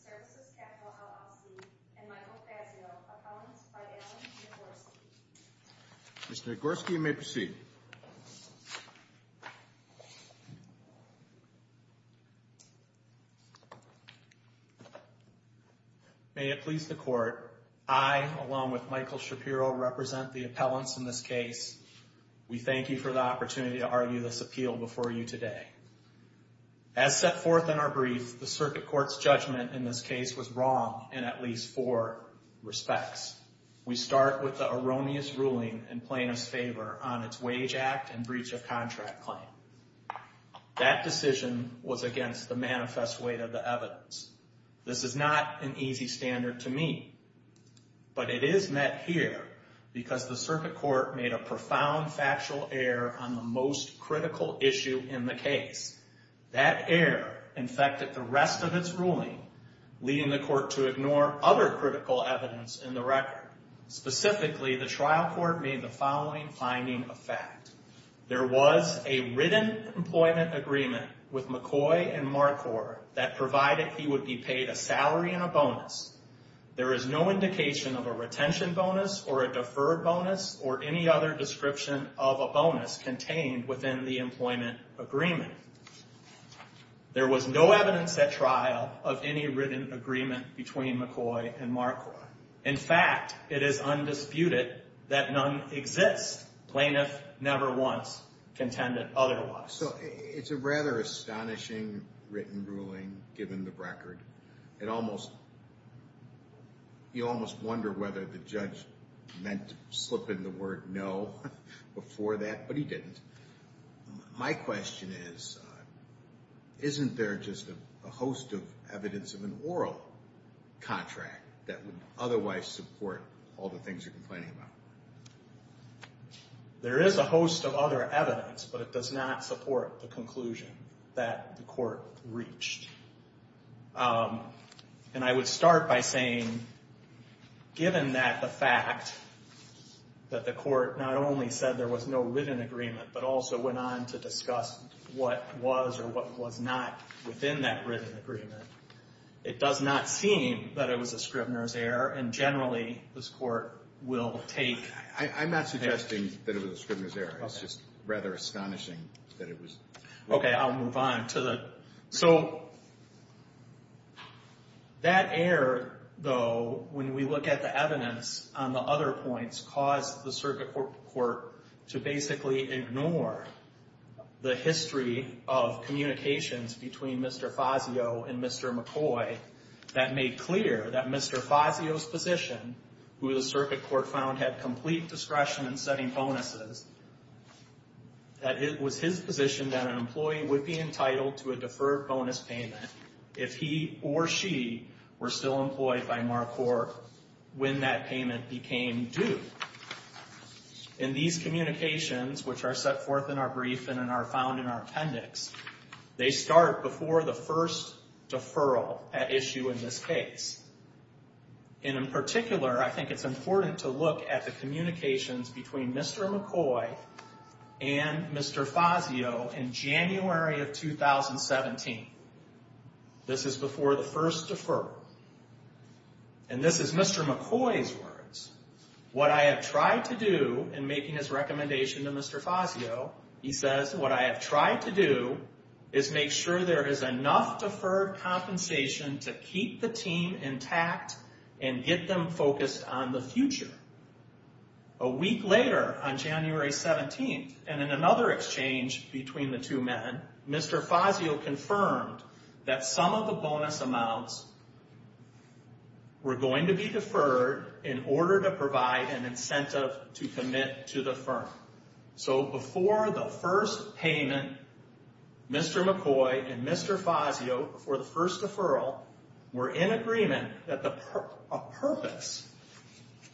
Services Capital, LLC, and Michael Fazio, a found by Alan Nagorski. Mr. Nagorski, you may proceed. May it please the court, I along with Michael Shapiro represent the appellants in this case. We thank you for the opportunity to argue this appeal before you today. As set forth in our brief, the circuit court's judgment in this case was wrong in at least four respects. We start with the erroneous ruling in plaintiff's favor on its wage act and breach of contract claim. That decision was against the manifest weight of the evidence. This is not an easy standard to meet, but it is met here because the circuit court made a profound factual error on the most critical issue in the case. That error infected the rest of its ruling, leading the court to ignore other critical evidence in the record. Specifically, the trial court made the following finding of fact. There was a written employment agreement with McCoy and MarCorp that provided he would be paid a salary and a bonus. There is no indication of a retention bonus or a deferred bonus or any other description of a bonus contained within the employment agreement. There was no evidence at trial of any written agreement between McCoy and MarCorp. In fact, it is undisputed that none exists. Plaintiff never once contended otherwise. So it's a rather astonishing written ruling given the record. It almost, you almost wonder whether the judge meant to slip in the word no before that, but he didn't. My question is, isn't there just a host of evidence of an oral contract that would otherwise support all the things you're complaining about? There is a host of other evidence, but it does not support the conclusion that the court reached. And I would start by saying, given that the fact that the court not only said there was no written agreement, but also went on to discuss what was or what was not within that written agreement, it does not seem that it was a Scribner's error, and generally this court will take... I'm not suggesting that it was a Scribner's error. It's just rather astonishing that it was... Okay, I'll move on to the... That error, though, when we look at the evidence on the other points, caused the circuit court to basically ignore the history of communications between Mr. Fazio and Mr. McCoy that made clear that Mr. Fazio's position, who the circuit court found had complete discretion in setting bonuses, that it was his position that an employee would be entitled to a deferred bonus payment if he or she were still employed by MarCorp when that payment became due. In these communications, which are set forth in our briefing and are found in our appendix, they start before the first deferral at issue in this case. In particular, I think it's important to look at the communications between Mr. McCoy and Mr. Fazio in January of 2017. This is before the first deferral, and this is Mr. McCoy's words. What I have tried to do in making this recommendation to Mr. Fazio, he says, what I have tried to do is make sure there is enough deferred compensation to keep the team intact and get them focused on the future. A week later, on January 17th, and in another exchange between the two men, Mr. Fazio confirmed that some of the bonus amounts were going to be deferred in order to provide an incentive to commit to the firm. Before the first payment, Mr. McCoy and Mr. Fazio, before the first deferral, were in agreement that the purpose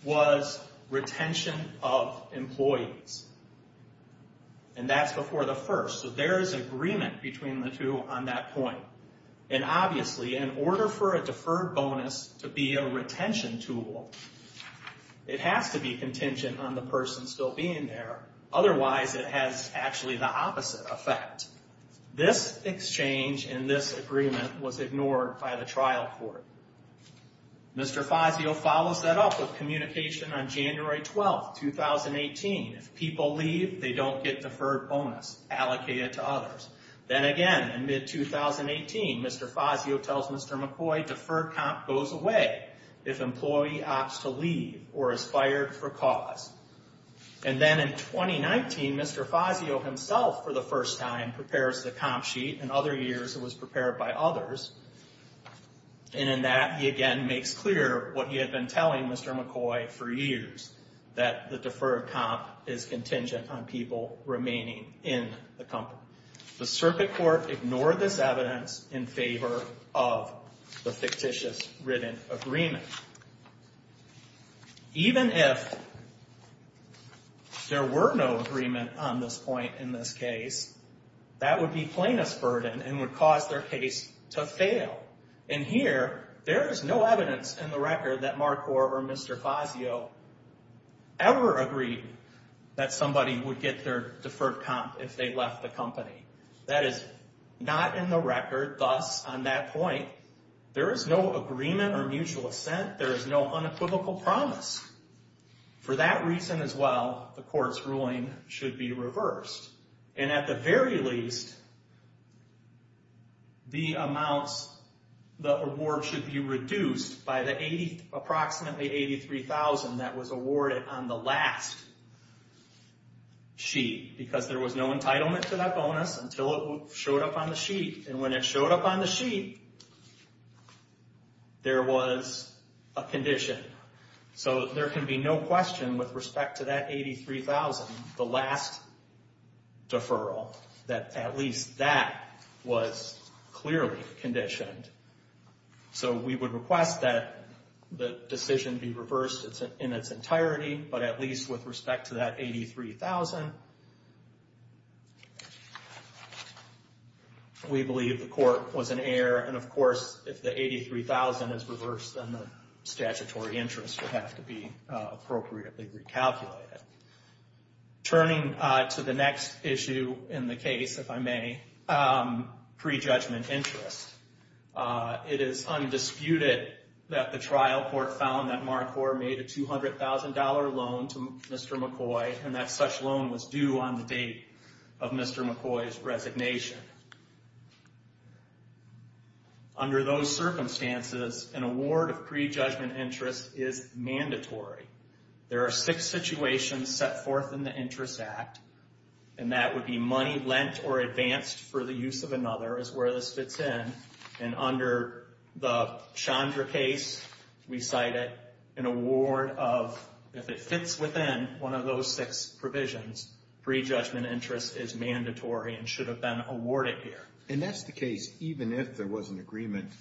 was retention of employees. That's before the first, so there is agreement between the two on that point. Obviously, in order for a deferred bonus to be a retention tool, it has to be contingent on the person still being there. Otherwise, it has actually the opposite effect. This exchange and this agreement was ignored by the trial court. Mr. Fazio follows that up with communication on January 12th, 2018. If people leave, they don't get deferred bonus allocated to others. Then again, in mid-2018, Mr. Fazio tells Mr. McCoy deferred comp goes away if employee opts to leave or is fired for cause. Then in 2019, Mr. Fazio himself, for the first time, prepares the comp sheet. In other years, it was prepared by others. In that, he again makes clear what he had been telling Mr. McCoy for years, that the deferred comp is contingent on people remaining in the company. The circuit court ignored this evidence in favor of the fictitious written agreement. Even if there were no agreement on this point in this case, that would be plaintiff's burden and would cause their case to fail. In here, there is no evidence in the record that Marcor or Mr. Fazio ever agreed that somebody would get their deferred comp if they left the company. That is not in the record. Thus, on that point, there is no agreement or mutual assent. There is no unequivocal promise. For that reason as well, the court's ruling should be reversed. At the very least, the amount, the award should be reduced by the approximately $83,000 that was awarded on the last sheet because there was no entitlement to that bonus until it showed up on the sheet. When it showed up on the sheet, there was a condition. There can be no question with respect to that $83,000, the last deferral, that at least that was clearly conditioned. We would request that the decision be reversed in its entirety, but at least with respect to that $83,000, we believe the court was an error. Of course, if the $83,000 is reversed, then the statutory interest would have to be appropriately recalculated. Turning to the next issue in the case, if I may, pre-judgment interest. It is undisputed that the trial court found that MarCorp made a $200,000 loan to Mr. McCoy and that such loan was due on the date of Mr. McCoy's resignation. Under those circumstances, an award of pre-judgment interest is mandatory. There are six situations set forth in the Interest Act, and that would be money lent or advanced for the use of another is where this fits in, and under the Chandra case, we cite it, an award of, if it fits within one of those six provisions, pre-judgment interest is mandatory and should have been awarded here. And that's the case even if there was an agreement,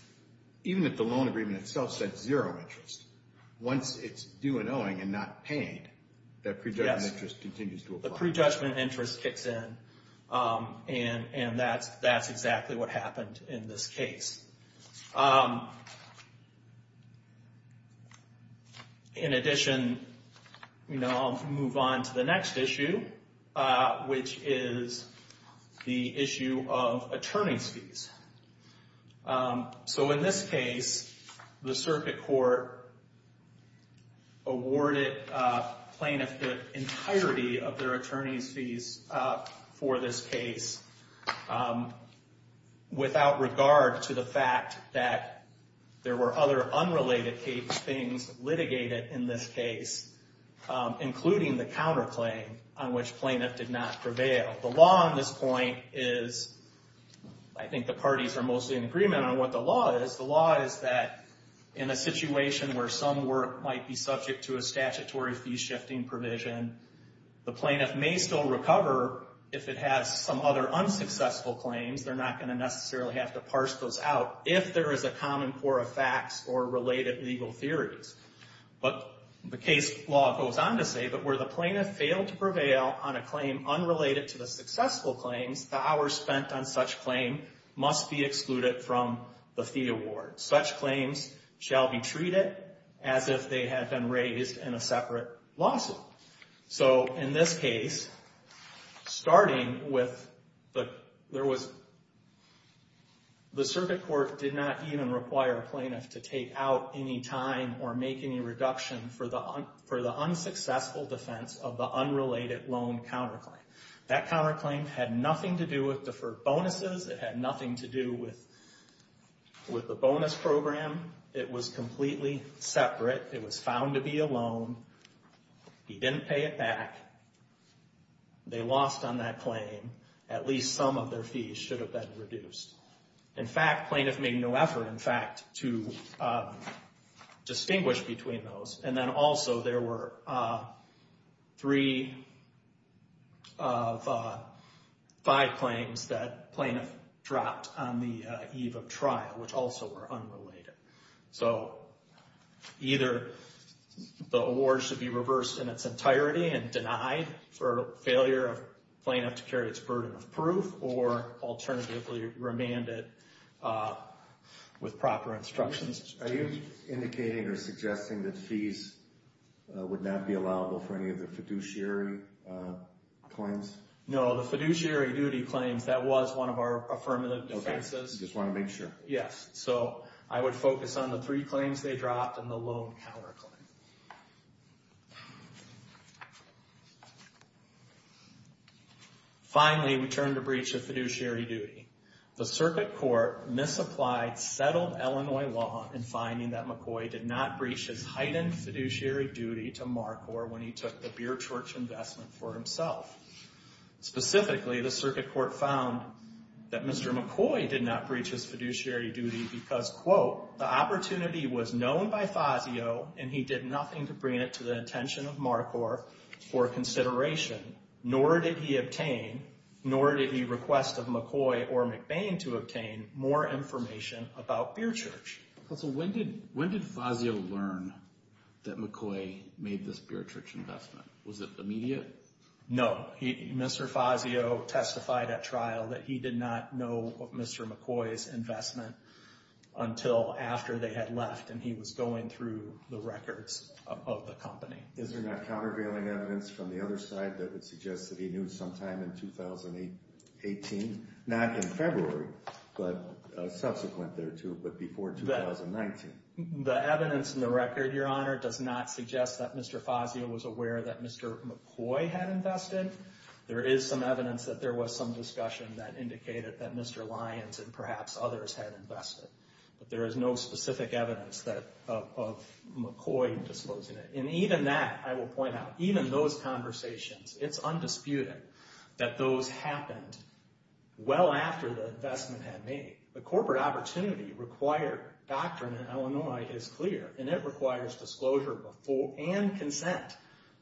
even if the loan agreement itself said zero interest. Once it's due an owing and not paid, that pre-judgment interest continues to apply. Yes, the pre-judgment interest kicks in, and that's exactly what happened in this case. In addition, I'll move on to the next issue, which is the issue of attorney's fees. So in this case, the circuit court awarded plaintiffs the entirety of their attorney's fees for this case without regard to the fact that there were other unrelated things litigated in this case, including the counterclaim on which plaintiff did not prevail. The law on this point is, I think the parties are mostly in agreement on what the law is. The law is that in a situation where some work might be subject to a statutory fee-shifting provision, the plaintiff may still recover if it has some other unsuccessful claims. They're not going to necessarily have to parse those out if there is a common core of facts or related legal theories. But the case law goes on to say that where the plaintiff failed to prevail on a claim unrelated to the successful claims, the hours spent on such claim must be excluded from the fee award. Such claims shall be treated as if they had been raised in a separate lawsuit. So in this case, starting with the... The circuit court did not even require a plaintiff to take out any time or make any reduction for the unsuccessful defense of the unrelated loan counterclaim. That counterclaim had nothing to do with deferred bonuses. It had nothing to do with the bonus program. It was completely separate. It was found to be a loan. He didn't pay it back. They lost on that claim. At least some of their fees should have been reduced. In fact, plaintiff made no effort, in fact, to distinguish between those. And then also there were three of five claims that plaintiff dropped on the eve of trial, which also were unrelated. So either the award should be reversed in its entirety and denied for failure of plaintiff to carry its burden of proof or alternatively remanded with proper instructions. Are you indicating or suggesting that fees would not be allowable for any of the fiduciary claims? No, the fiduciary duty claims, that was one of our affirmative defenses. Okay, just want to make sure. Yes. So I would focus on the three claims they dropped and the loan counterclaim. Finally, we turn to breach of fiduciary duty. The circuit court misapplied settled Illinois law in finding that McCoy did not breach his heightened fiduciary duty to Marcor when he took the Beertorch investment for himself. Specifically, the circuit court found that Mr. McCoy did not breach his fiduciary duty because, quote, the opportunity was known by Fazio and he did nothing to bring it to the attention of Marcor for consideration, nor did he obtain, nor did he request of McCoy or McBain to obtain, more information about Beertorch. When did Fazio learn that McCoy made this Beertorch investment? Was it immediate? No, Mr. Fazio testified at trial that he did not know of Mr. McCoy's investment until after they had left and he was going through the records of the company. Is there not countervailing evidence from the other side that would suggest that he knew sometime in 2018? Not in February, but subsequent thereto, but before 2019. The evidence in the record, Your Honor, does not suggest that Mr. Fazio was aware that Mr. McCoy had invested. There is some evidence that there was some discussion that indicated that Mr. Lyons and perhaps others had invested. But there is no specific evidence of McCoy disclosing it. And even that, I will point out, even those conversations, it's undisputed that those happened well after the investment had made. The corporate opportunity required doctrine in Illinois is clear, and it requires disclosure and consent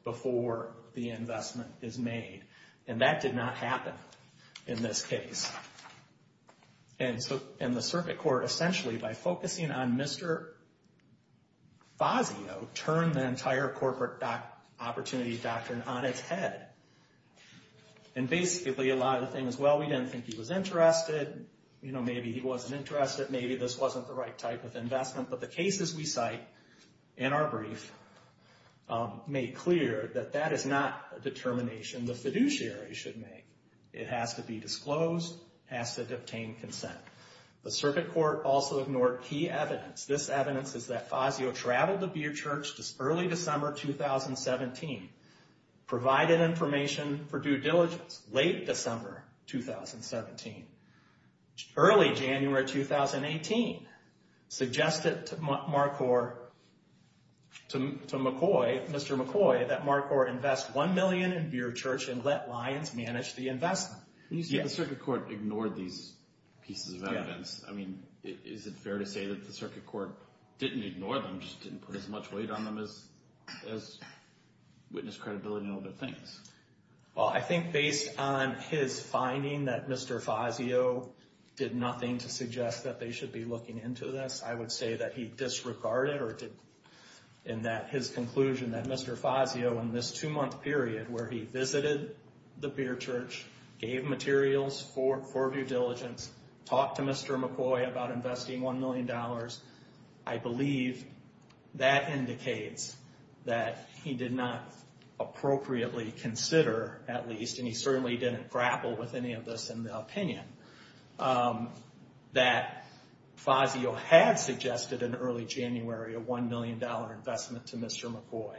before the investment is made. And that did not happen in this case. And the circuit court, essentially, by focusing on Mr. Fazio, turned the entire corporate opportunity doctrine on its head. And basically, a lot of the things, well, we didn't think he was interested. You know, maybe he wasn't interested. Maybe this wasn't the right type of investment. But the cases we cite in our brief made clear that that is not a determination. The fiduciary should make. It has to be disclosed. It has to obtain consent. The circuit court also ignored key evidence. This evidence is that Fazio traveled to Beer Church early December 2017, provided information for due diligence late December 2017. Early January 2018, suggested to McCoy, Mr. McCoy, that McCoy invest $1 million in Beer Church and let Lyons manage the investment. And you say the circuit court ignored these pieces of evidence. I mean, is it fair to say that the circuit court didn't ignore them, just didn't put as much weight on them as witnessed credibility in other things? Well, I think based on his finding that Mr. Fazio did nothing to suggest that they should be looking into this, I would say that he disregarded in his conclusion that Mr. Fazio, in this two-month period where he visited the Beer Church, gave materials for due diligence, talked to Mr. McCoy about investing $1 million, I believe that indicates that he did not appropriately consider, at least, and he certainly didn't grapple with any of this in the opinion, that Fazio had suggested in early January a $1 million investment to Mr. McCoy.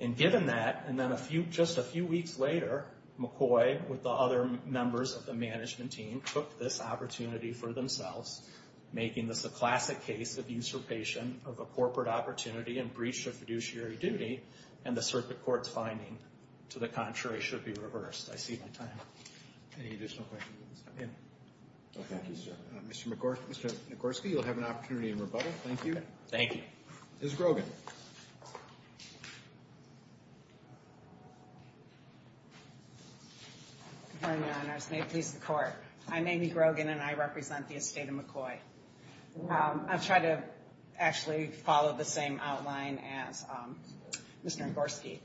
And given that, and then just a few weeks later, McCoy, with the other members of the management team, took this opportunity for themselves, making this a classic case of usurpation of a corporate opportunity and breach of fiduciary duty, and the circuit court's finding, to the contrary, should be reversed. I see my time. Any additional questions? No, thank you, sir. Mr. Nagorski, you'll have an opportunity in rebuttal. Thank you. Thank you. Ms. Grogan. Good morning, Your Honors. May it please the Court. I'm Amy Grogan, and I represent the estate of McCoy. I'll try to actually follow the same outline as Mr. Nagorski.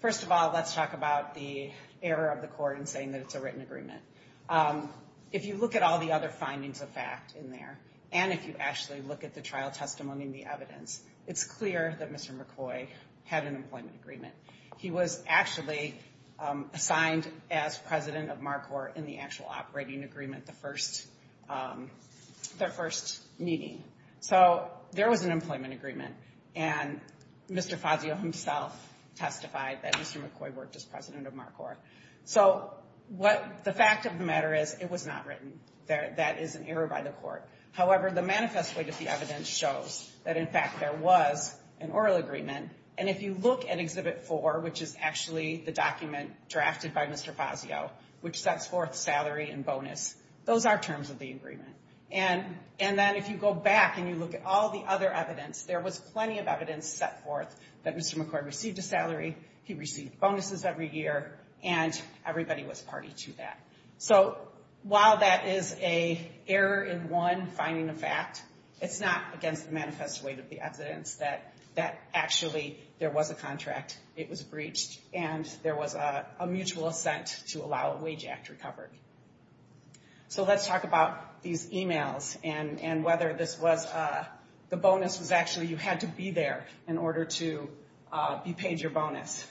First of all, let's talk about the error of the Court in saying that it's a written agreement. If you look at all the other findings of fact in there, and if you actually look at the trial testimony and the evidence, it's clear that Mr. McCoy had an employment agreement. He was actually assigned as president of MarCorp in the actual operating agreement, their first meeting. So there was an employment agreement, and Mr. Fazio himself testified that Mr. McCoy worked as president of MarCorp. So what the fact of the matter is, it was not written. That is an error by the Court. However, the manifest way that the evidence shows that, in fact, there was an oral agreement, and if you look at Exhibit 4, which is actually the document drafted by Mr. Fazio, which sets forth salary and bonus, those are terms of the agreement. And then if you go back and you look at all the other evidence, there was plenty of evidence set forth that Mr. McCoy received a salary, he received bonuses every year, and everybody was party to that. So while that is an error in one finding of fact, it's not against the manifest way of the evidence that actually there was a contract, it was breached, and there was a mutual assent to allow a wage act to recover. So let's talk about these e-mails and whether the bonus was actually you had to be there in order to be paid your bonus.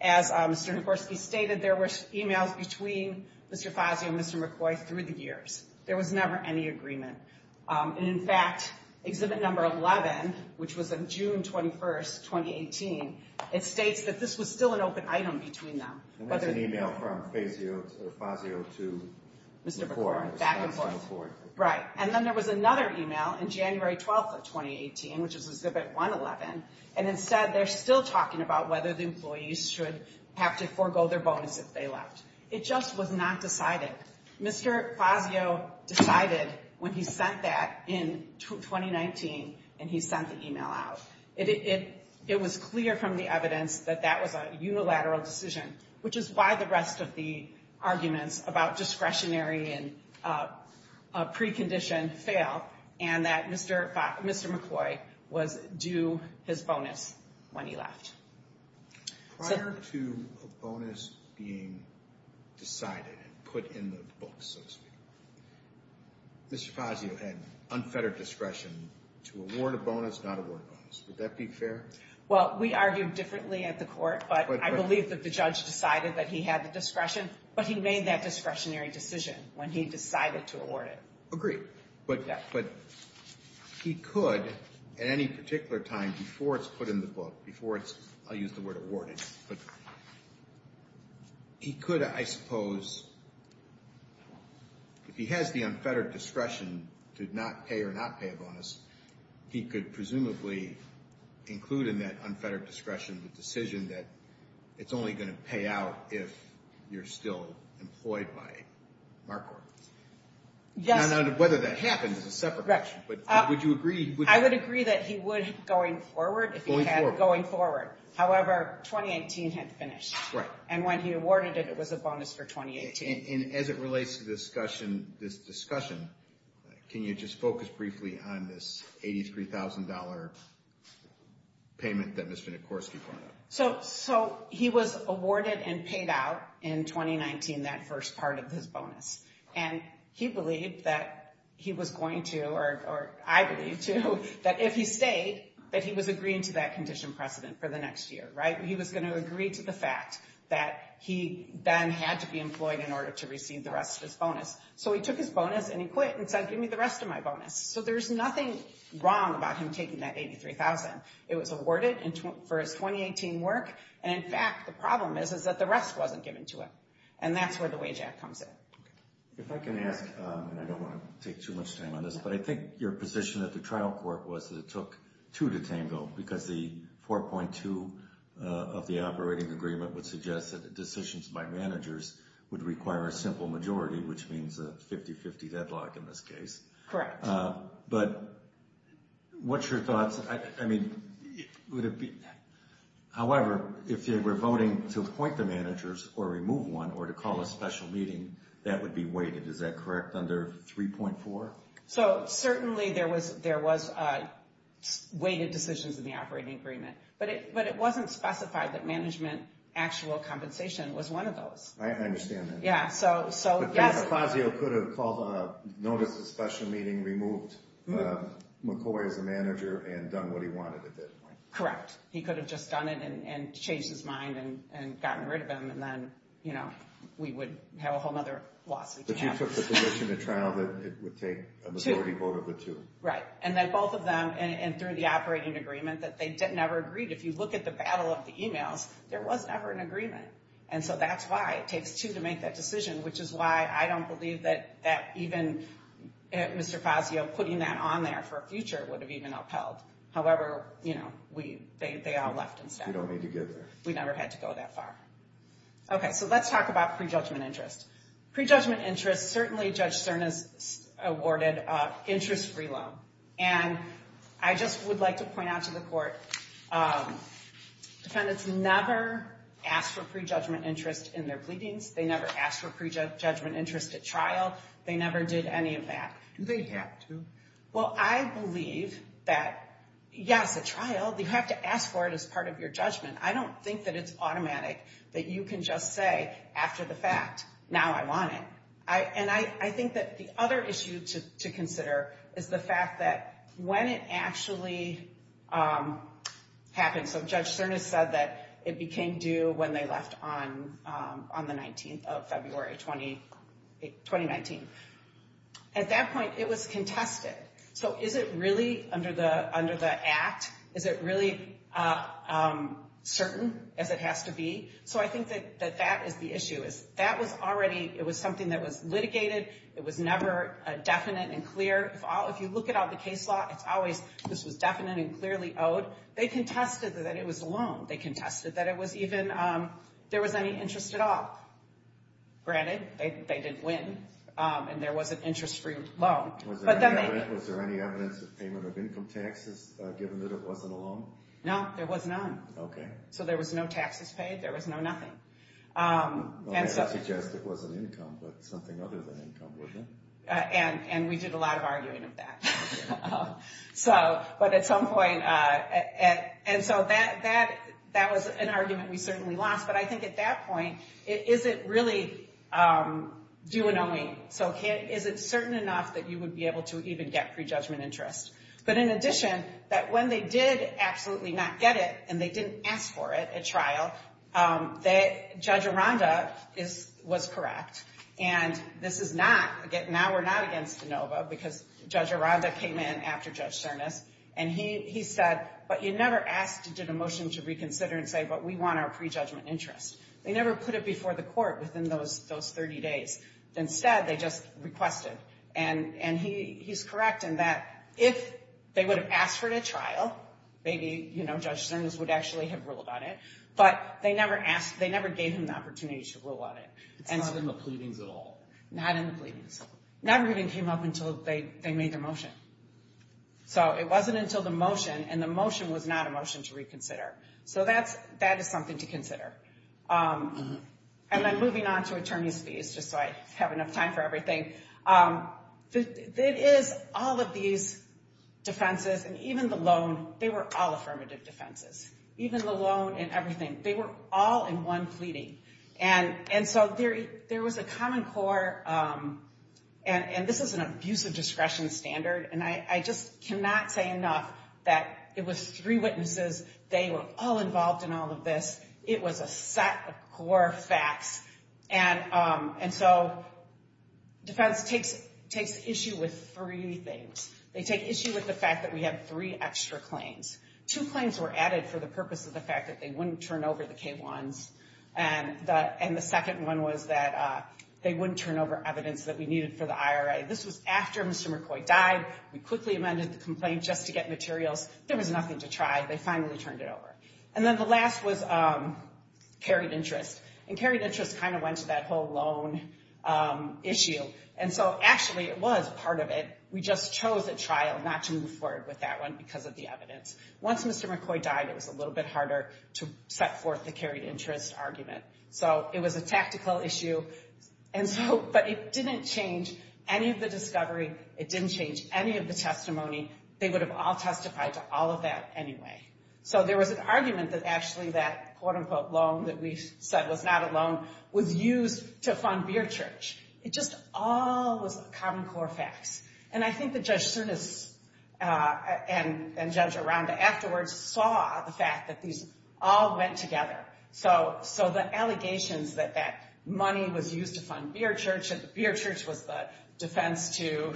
As Mr. Nikorski stated, there were e-mails between Mr. Fazio and Mr. McCoy through the years. There was never any agreement. And, in fact, Exhibit 11, which was on June 21, 2018, it states that this was still an open item between them. And that's an e-mail from Fazio to Mr. McCoy. Right. And then there was another e-mail on January 12, 2018, which is Exhibit 111, and instead they're still talking about whether the employees should have to forego their bonus if they left. It just was not decided. Mr. Fazio decided when he sent that in 2019, and he sent the e-mail out. It was clear from the evidence that that was a unilateral decision, which is why the rest of the arguments about discretionary and precondition fail, and that Mr. McCoy was due his bonus when he left. Prior to a bonus being decided and put in the books, so to speak, Mr. Fazio had unfettered discretion to award a bonus, not award a bonus. Would that be fair? Well, we argued differently at the court, but I believe that the judge decided that he had the discretion, but he made that discretionary decision when he decided to award it. Agreed. But he could, at any particular time before it's put in the book, before it's, I'll use the word awarded, but he could, I suppose, if he has the unfettered discretion to not pay or not pay a bonus, he could presumably include in that unfettered discretion the decision that it's only going to pay out if you're still employed by MarCorp. Yes. Now, whether that happens is a separate question, but would you agree? I would agree that he would going forward if he had going forward. However, 2018 had finished. And when he awarded it, it was a bonus for 2018. And as it relates to this discussion, can you just focus briefly on this $83,000 payment that Mr. Nikorski brought up? So he was awarded and paid out in 2019, that first part of his bonus. And he believed that he was going to, or I believe too, that if he stayed, that he was agreeing to that condition precedent for the next year, right? He was going to agree to the fact that he then had to be employed in order to receive the rest of his bonus. So he took his bonus and he quit and said, give me the rest of my bonus. So there's nothing wrong about him taking that $83,000. It was awarded for his 2018 work. And in fact, the problem is that the rest wasn't given to him. And that's where the wage act comes in. If I can ask, and I don't want to take too much time on this, but I think your position at the trial court was that it took two to tango, because the 4.2 of the operating agreement would suggest that decisions by managers would require a simple majority, which means a 50-50 deadlock in this case. Correct. But what's your thoughts? However, if they were voting to appoint the managers or remove one or to call a special meeting, that would be weighted. Is that correct, under 3.4? So certainly there was weighted decisions in the operating agreement. But it wasn't specified that management actual compensation was one of those. I understand that. Yeah. Yeah, so, yes. So Fazio could have called a notice of special meeting, removed McCoy as a manager, and done what he wanted to do. Correct. He could have just done it and changed his mind and gotten rid of him, and then we would have a whole other lawsuit. But you took the position at trial that it would take a majority vote of the two. Right. And then both of them, and through the operating agreement, that they never agreed. If you look at the battle of the emails, there was never an agreement. And so that's why it takes two to make that decision, which is why I don't believe that even Mr. Fazio putting that on there for a future would have even upheld. However, you know, they all left instead. We don't need to get there. We never had to go that far. Okay, so let's talk about prejudgment interest. Prejudgment interest, certainly Judge Cernas awarded interest free loan. And I just would like to point out to the court, defendants never asked for prejudgment interest in their pleadings. They never asked for prejudgment interest at trial. They never did any of that. Do they have to? Well, I believe that, yes, at trial, you have to ask for it as part of your judgment. I don't think that it's automatic that you can just say after the fact, now I want it. And I think that the other issue to consider is the fact that when it actually happened. So Judge Cernas said that it became due when they left on the 19th of February, 2019. At that point, it was contested. So is it really under the act? Is it really certain as it has to be? So I think that that is the issue. That was already, it was something that was litigated. It was never definite and clear. If you look at all the case law, it's always this was definite and clearly owed. They contested that it was a loan. They contested that it was even, there was any interest at all. Granted, they didn't win, and there was an interest free loan. Was there any evidence of payment of income taxes, given that it wasn't a loan? No, there was none. Okay. So there was no taxes paid. There was no nothing. I suggest it was an income, but something other than income, wasn't it? And we did a lot of arguing of that. But at some point, and so that was an argument we certainly lost. But I think at that point, is it really due and owing? So is it certain enough that you would be able to even get prejudgment interest? But in addition, that when they did absolutely not get it, and they didn't ask for it at trial, that Judge Aranda was correct. And this is not, now we're not against ANOVA, because Judge Aranda came in after Judge Cernas, and he said, but you never asked to get a motion to reconsider and say, but we want our prejudgment interest. They never put it before the court within those 30 days. Instead, they just requested. And he's correct in that if they would have asked for it at trial, maybe Judge Cernas would actually have ruled on it. But they never gave him the opportunity to rule on it. It's not in the pleadings at all? Not in the pleadings. It never even came up until they made their motion. So it wasn't until the motion, and the motion was not a motion to reconsider. So that is something to consider. And then moving on to attorney's fees, just so I have enough time for everything. It is all of these defenses, and even the loan, they were all affirmative defenses. Even the loan and everything, they were all in one pleading. And so there was a common core, and this is an abuse of discretion standard, and I just cannot say enough that it was three witnesses. They were all involved in all of this. It was a set of core facts. And so defense takes issue with three things. They take issue with the fact that we have three extra claims. Two claims were added for the purpose of the fact that they wouldn't turn over the K1s, and the second one was that they wouldn't turn over evidence that we needed for the IRA. This was after Mr. McCoy died. We quickly amended the complaint just to get materials. There was nothing to try. They finally turned it over. And then the last was carried interest. And carried interest kind of went to that whole loan issue. And so actually it was part of it. We just chose at trial not to move forward with that one because of the evidence. Once Mr. McCoy died, it was a little bit harder to set forth the carried interest argument. So it was a tactical issue, but it didn't change any of the discovery. It didn't change any of the testimony. They would have all testified to all of that anyway. So there was an argument that actually that quote-unquote loan that we said was not a loan was used to fund Beer Church. It just all was common core facts. And I think that Judge Sernus and Judge Aranda afterwards saw the fact that these all went together. So the allegations that that money was used to fund Beer Church, and Beer Church was the defense to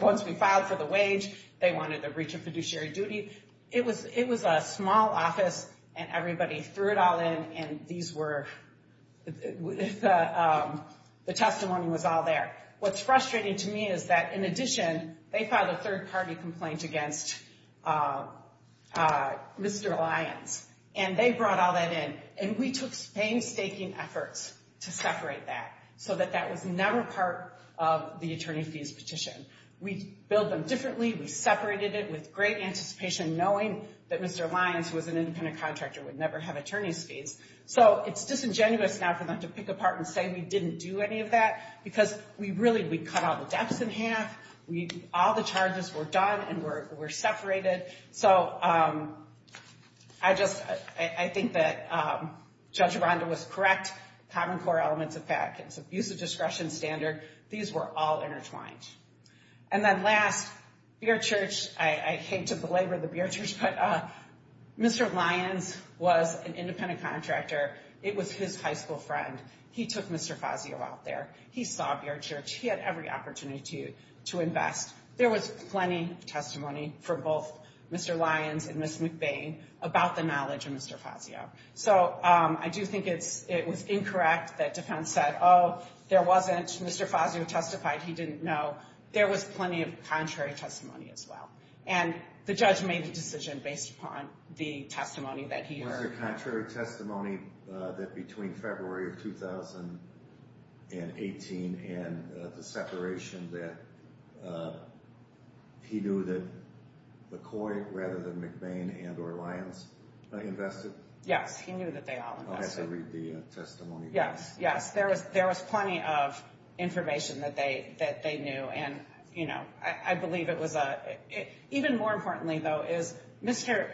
once we filed for the wage, they wanted the breach of fiduciary duty. It was a small office, and everybody threw it all in, and the testimony was all there. What's frustrating to me is that in addition, they filed a third-party complaint against Mr. Lyons. And they brought all that in, and we took painstaking efforts to separate that so that that was never part of the attorney fees petition. We billed them differently. We separated it with great anticipation, knowing that Mr. Lyons, who was an independent contractor, would never have attorney's fees. So it's disingenuous now for them to pick apart and say we didn't do any of that because we really cut all the depths in half. All the charges were done and were separated. So I think that Judge Aranda was correct. Common core elements of fact. It's abusive discretion standard. These were all intertwined. And then last, Beer Church, I hate to belabor the Beer Church, but Mr. Lyons was an independent contractor. It was his high school friend. He took Mr. Fazio out there. He saw Beer Church. He had every opportunity to invest. There was plenty of testimony from both Mr. Lyons and Ms. McBain about the knowledge of Mr. Fazio. So I do think it was incorrect that defense said, oh, there wasn't. Mr. Fazio testified he didn't know. There was plenty of contrary testimony as well. And the judge made the decision based upon the testimony that he heard. Was there contrary testimony that between February of 2018 and the separation that he knew that McCoy rather than McBain and or Lyons invested? Yes, he knew that they all invested. I'll have to read the testimony. Yes, yes. There was plenty of information that they knew. I believe it was even more importantly, though, is Mr.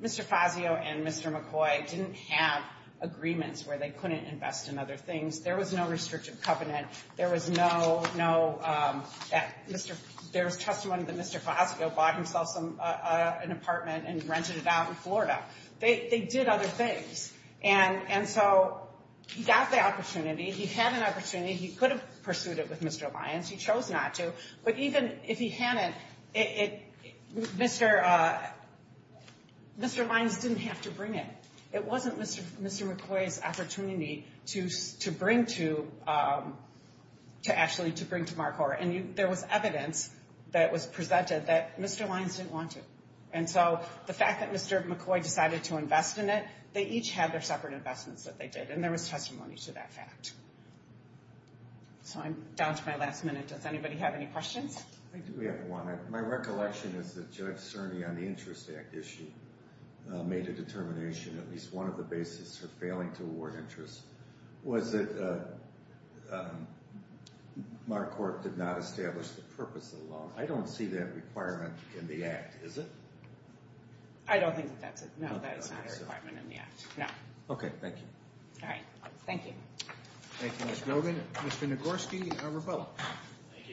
Fazio and Mr. McCoy didn't have agreements where they couldn't invest in other things. There was no restrictive covenant. There was testimony that Mr. Fazio bought himself an apartment and rented it out in Florida. They did other things. And so he got the opportunity. He had an opportunity. He could have pursued it with Mr. Lyons. He chose not to. But even if he hadn't, Mr. Lyons didn't have to bring it. It wasn't Mr. McCoy's opportunity to bring to MarCorp. And there was evidence that was presented that Mr. Lyons didn't want to. And so the fact that Mr. McCoy decided to invest in it, they each had their separate investments that they did. And there was testimony to that fact. So I'm down to my last minute. Does anybody have any questions? I do have one. My recollection is that Judge Cerny on the Interest Act issue made a determination, at least one of the basis for failing to award interest, was that MarCorp did not establish the purpose of the loan. I don't see that requirement in the Act, is it? I don't think that's it. No, that is not a requirement in the Act, no. Okay, thank you. All right. Thank you. Thank you, Ms. Nogan. Mr. Nagorski, you are rebuttal. Thank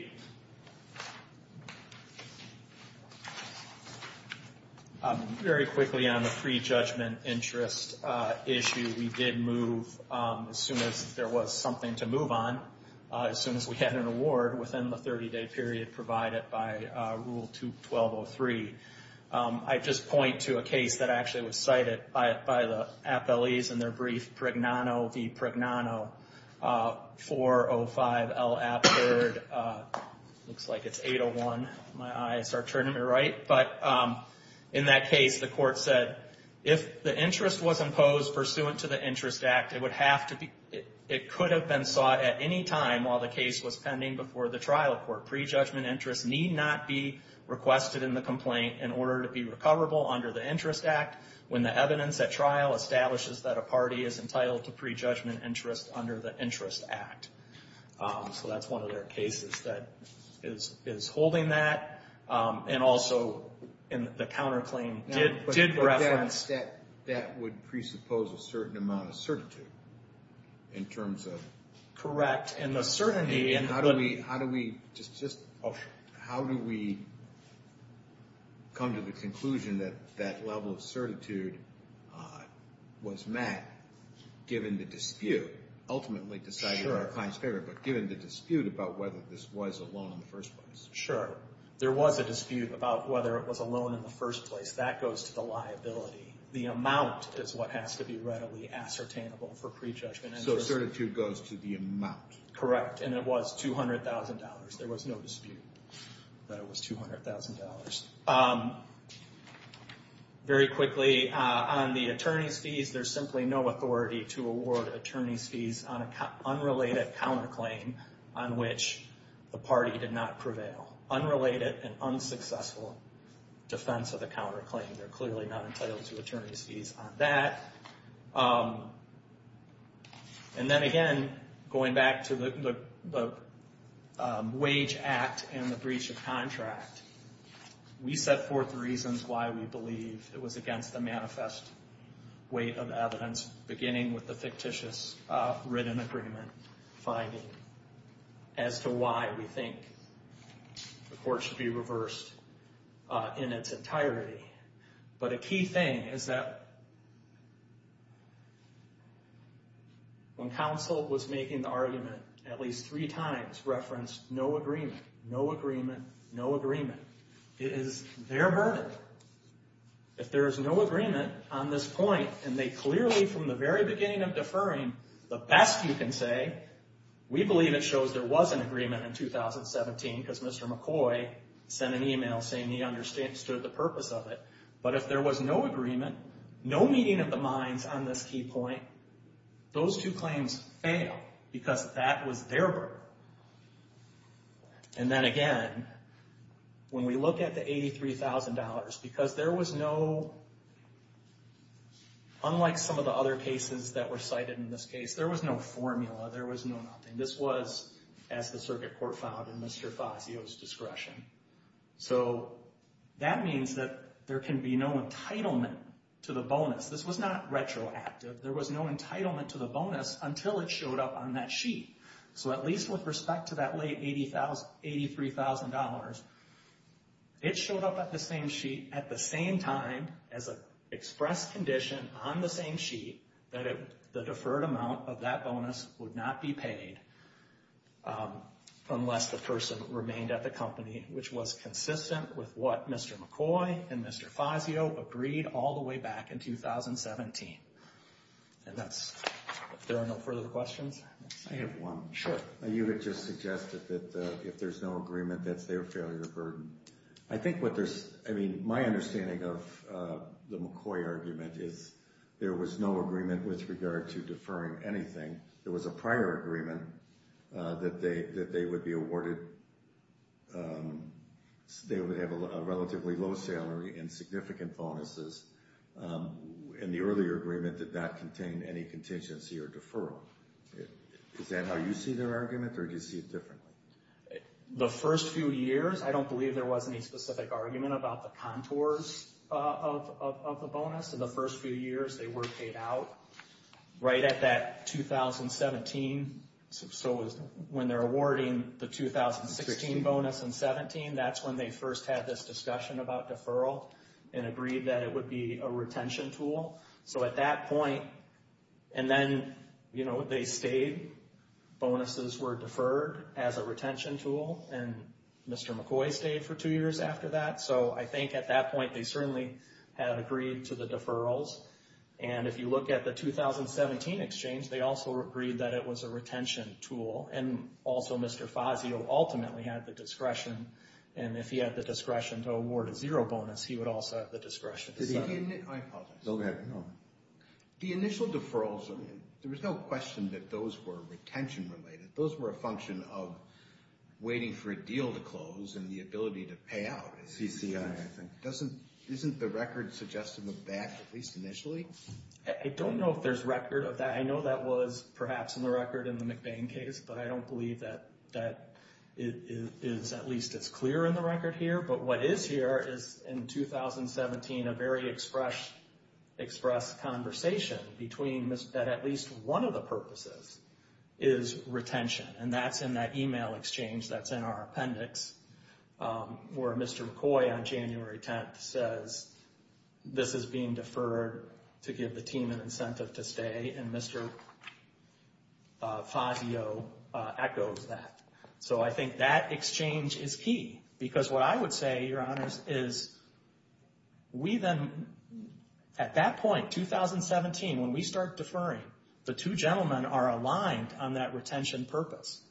you. Very quickly on the pre-judgment interest issue, we did move, as soon as there was something to move on, as soon as we had an award within the 30-day period provided by Rule 2203. I just point to a case that actually was cited by the appellees in their brief, Pregnano v. Pregnano, 405 L. Appford. It looks like it's 801. My eyes are turning me right. But in that case, the court said, if the interest was imposed pursuant to the Interest Act, it could have been sought at any time while the case was pending before the trial court. Pre-judgment interest need not be requested in the complaint in order to be recoverable under the Interest Act when the evidence at trial establishes that a party is entitled to pre-judgment interest under the Interest Act. So that's one of their cases that is holding that. And also, the counterclaim did reference… But that would presuppose a certain amount of certitude in terms of… Correct. How do we come to the conclusion that that level of certitude was met, given the dispute, ultimately decided in the client's favor, but given the dispute about whether this was a loan in the first place? Sure. There was a dispute about whether it was a loan in the first place. That goes to the liability. The amount is what has to be readily ascertainable for pre-judgment interest. So the certitude goes to the amount. Correct. And it was $200,000. There was no dispute that it was $200,000. Very quickly, on the attorney's fees, there's simply no authority to award attorney's fees on an unrelated counterclaim on which the party did not prevail. Unrelated and unsuccessful defense of the counterclaim. They're clearly not entitled to attorney's fees on that. And then, again, going back to the wage act and the breach of contract, we set forth the reasons why we believe it was against the manifest weight of evidence, beginning with the fictitious written agreement finding, as to why we think the court should be reversed in its entirety. But a key thing is that when counsel was making the argument, at least three times referenced no agreement, no agreement, no agreement. It is their verdict. If there is no agreement on this point, and they clearly, from the very beginning of deferring, the best you can say, we believe it shows there was an agreement in 2017, because Mr. McCoy sent an email saying he understood the purpose of it. But if there was no agreement, no meeting of the minds on this key point, those two claims fail, because that was their verdict. And then, again, when we look at the $83,000, because there was no, unlike some of the other cases that were cited in this case, there was no formula. There was no nothing. This was, as the circuit court found in Mr. Fazio's discretion. So that means that there can be no entitlement to the bonus. This was not retroactive. There was no entitlement to the bonus until it showed up on that sheet. So at least with respect to that late $83,000, it showed up at the same sheet at the same time as an express condition on the same sheet that the deferred amount of that bonus would not be paid unless the person remained at the company, which was consistent with what Mr. McCoy and Mr. Fazio agreed all the way back in 2017. And that's, if there are no further questions. I have one. Sure. You had just suggested that if there's no agreement, that's their failure burden. I think what there's, I mean, my understanding of the McCoy argument is there was no agreement with regard to deferring anything. There was a prior agreement that they would be awarded, they would have a relatively low salary and significant bonuses, and the earlier agreement did not contain any contingency or deferral. Is that how you see their argument, or do you see it differently? The first few years, I don't believe there was any specific argument about the contours of the bonus. In the first few years, they were paid out. Right at that 2017, so when they're awarding the 2016 bonus in 17, that's when they first had this discussion about deferral and agreed that it would be a retention tool. So at that point, and then, you know, they stayed. Bonuses were deferred as a retention tool, and Mr. McCoy stayed for two years after that. So I think at that point they certainly had agreed to the deferrals. And if you look at the 2017 exchange, they also agreed that it was a retention tool. And also Mr. Fazio ultimately had the discretion, and if he had the discretion to award a zero bonus, he would also have the discretion. I apologize. No, go ahead. The initial deferrals, there was no question that those were retention related. Those were a function of waiting for a deal to close and the ability to pay out. Isn't the record suggesting that, at least initially? I don't know if there's record of that. I know that was perhaps in the record in the McBain case, but I don't believe that it is at least as clear in the record here. But what is here is, in 2017, a very express conversation that at least one of the purposes is retention, and that's in that email exchange that's in our appendix, where Mr. McCoy on January 10th says, this is being deferred to give the team an incentive to stay, and Mr. Fazio echoes that. So I think that exchange is key, because what I would say, Your Honors, is we then, at that point, 2017, when we start deferring, the two gentlemen are aligned on that retention purpose.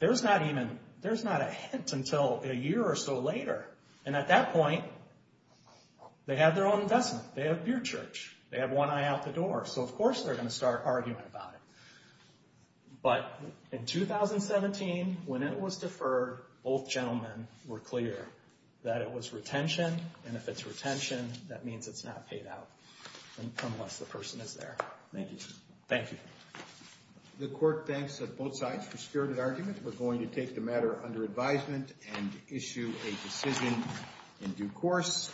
There's not a hint until a year or so later, and at that point, they have their own investment. They have Beardchurch. They have one eye out the door, so of course they're going to start arguing about it. But in 2017, when it was deferred, both gentlemen were clear that it was retention, and if it's retention, that means it's not paid out, unless the person is there. The Court thanks both sides for spirited argument. We're going to take the matter under advisement and issue a decision in due course.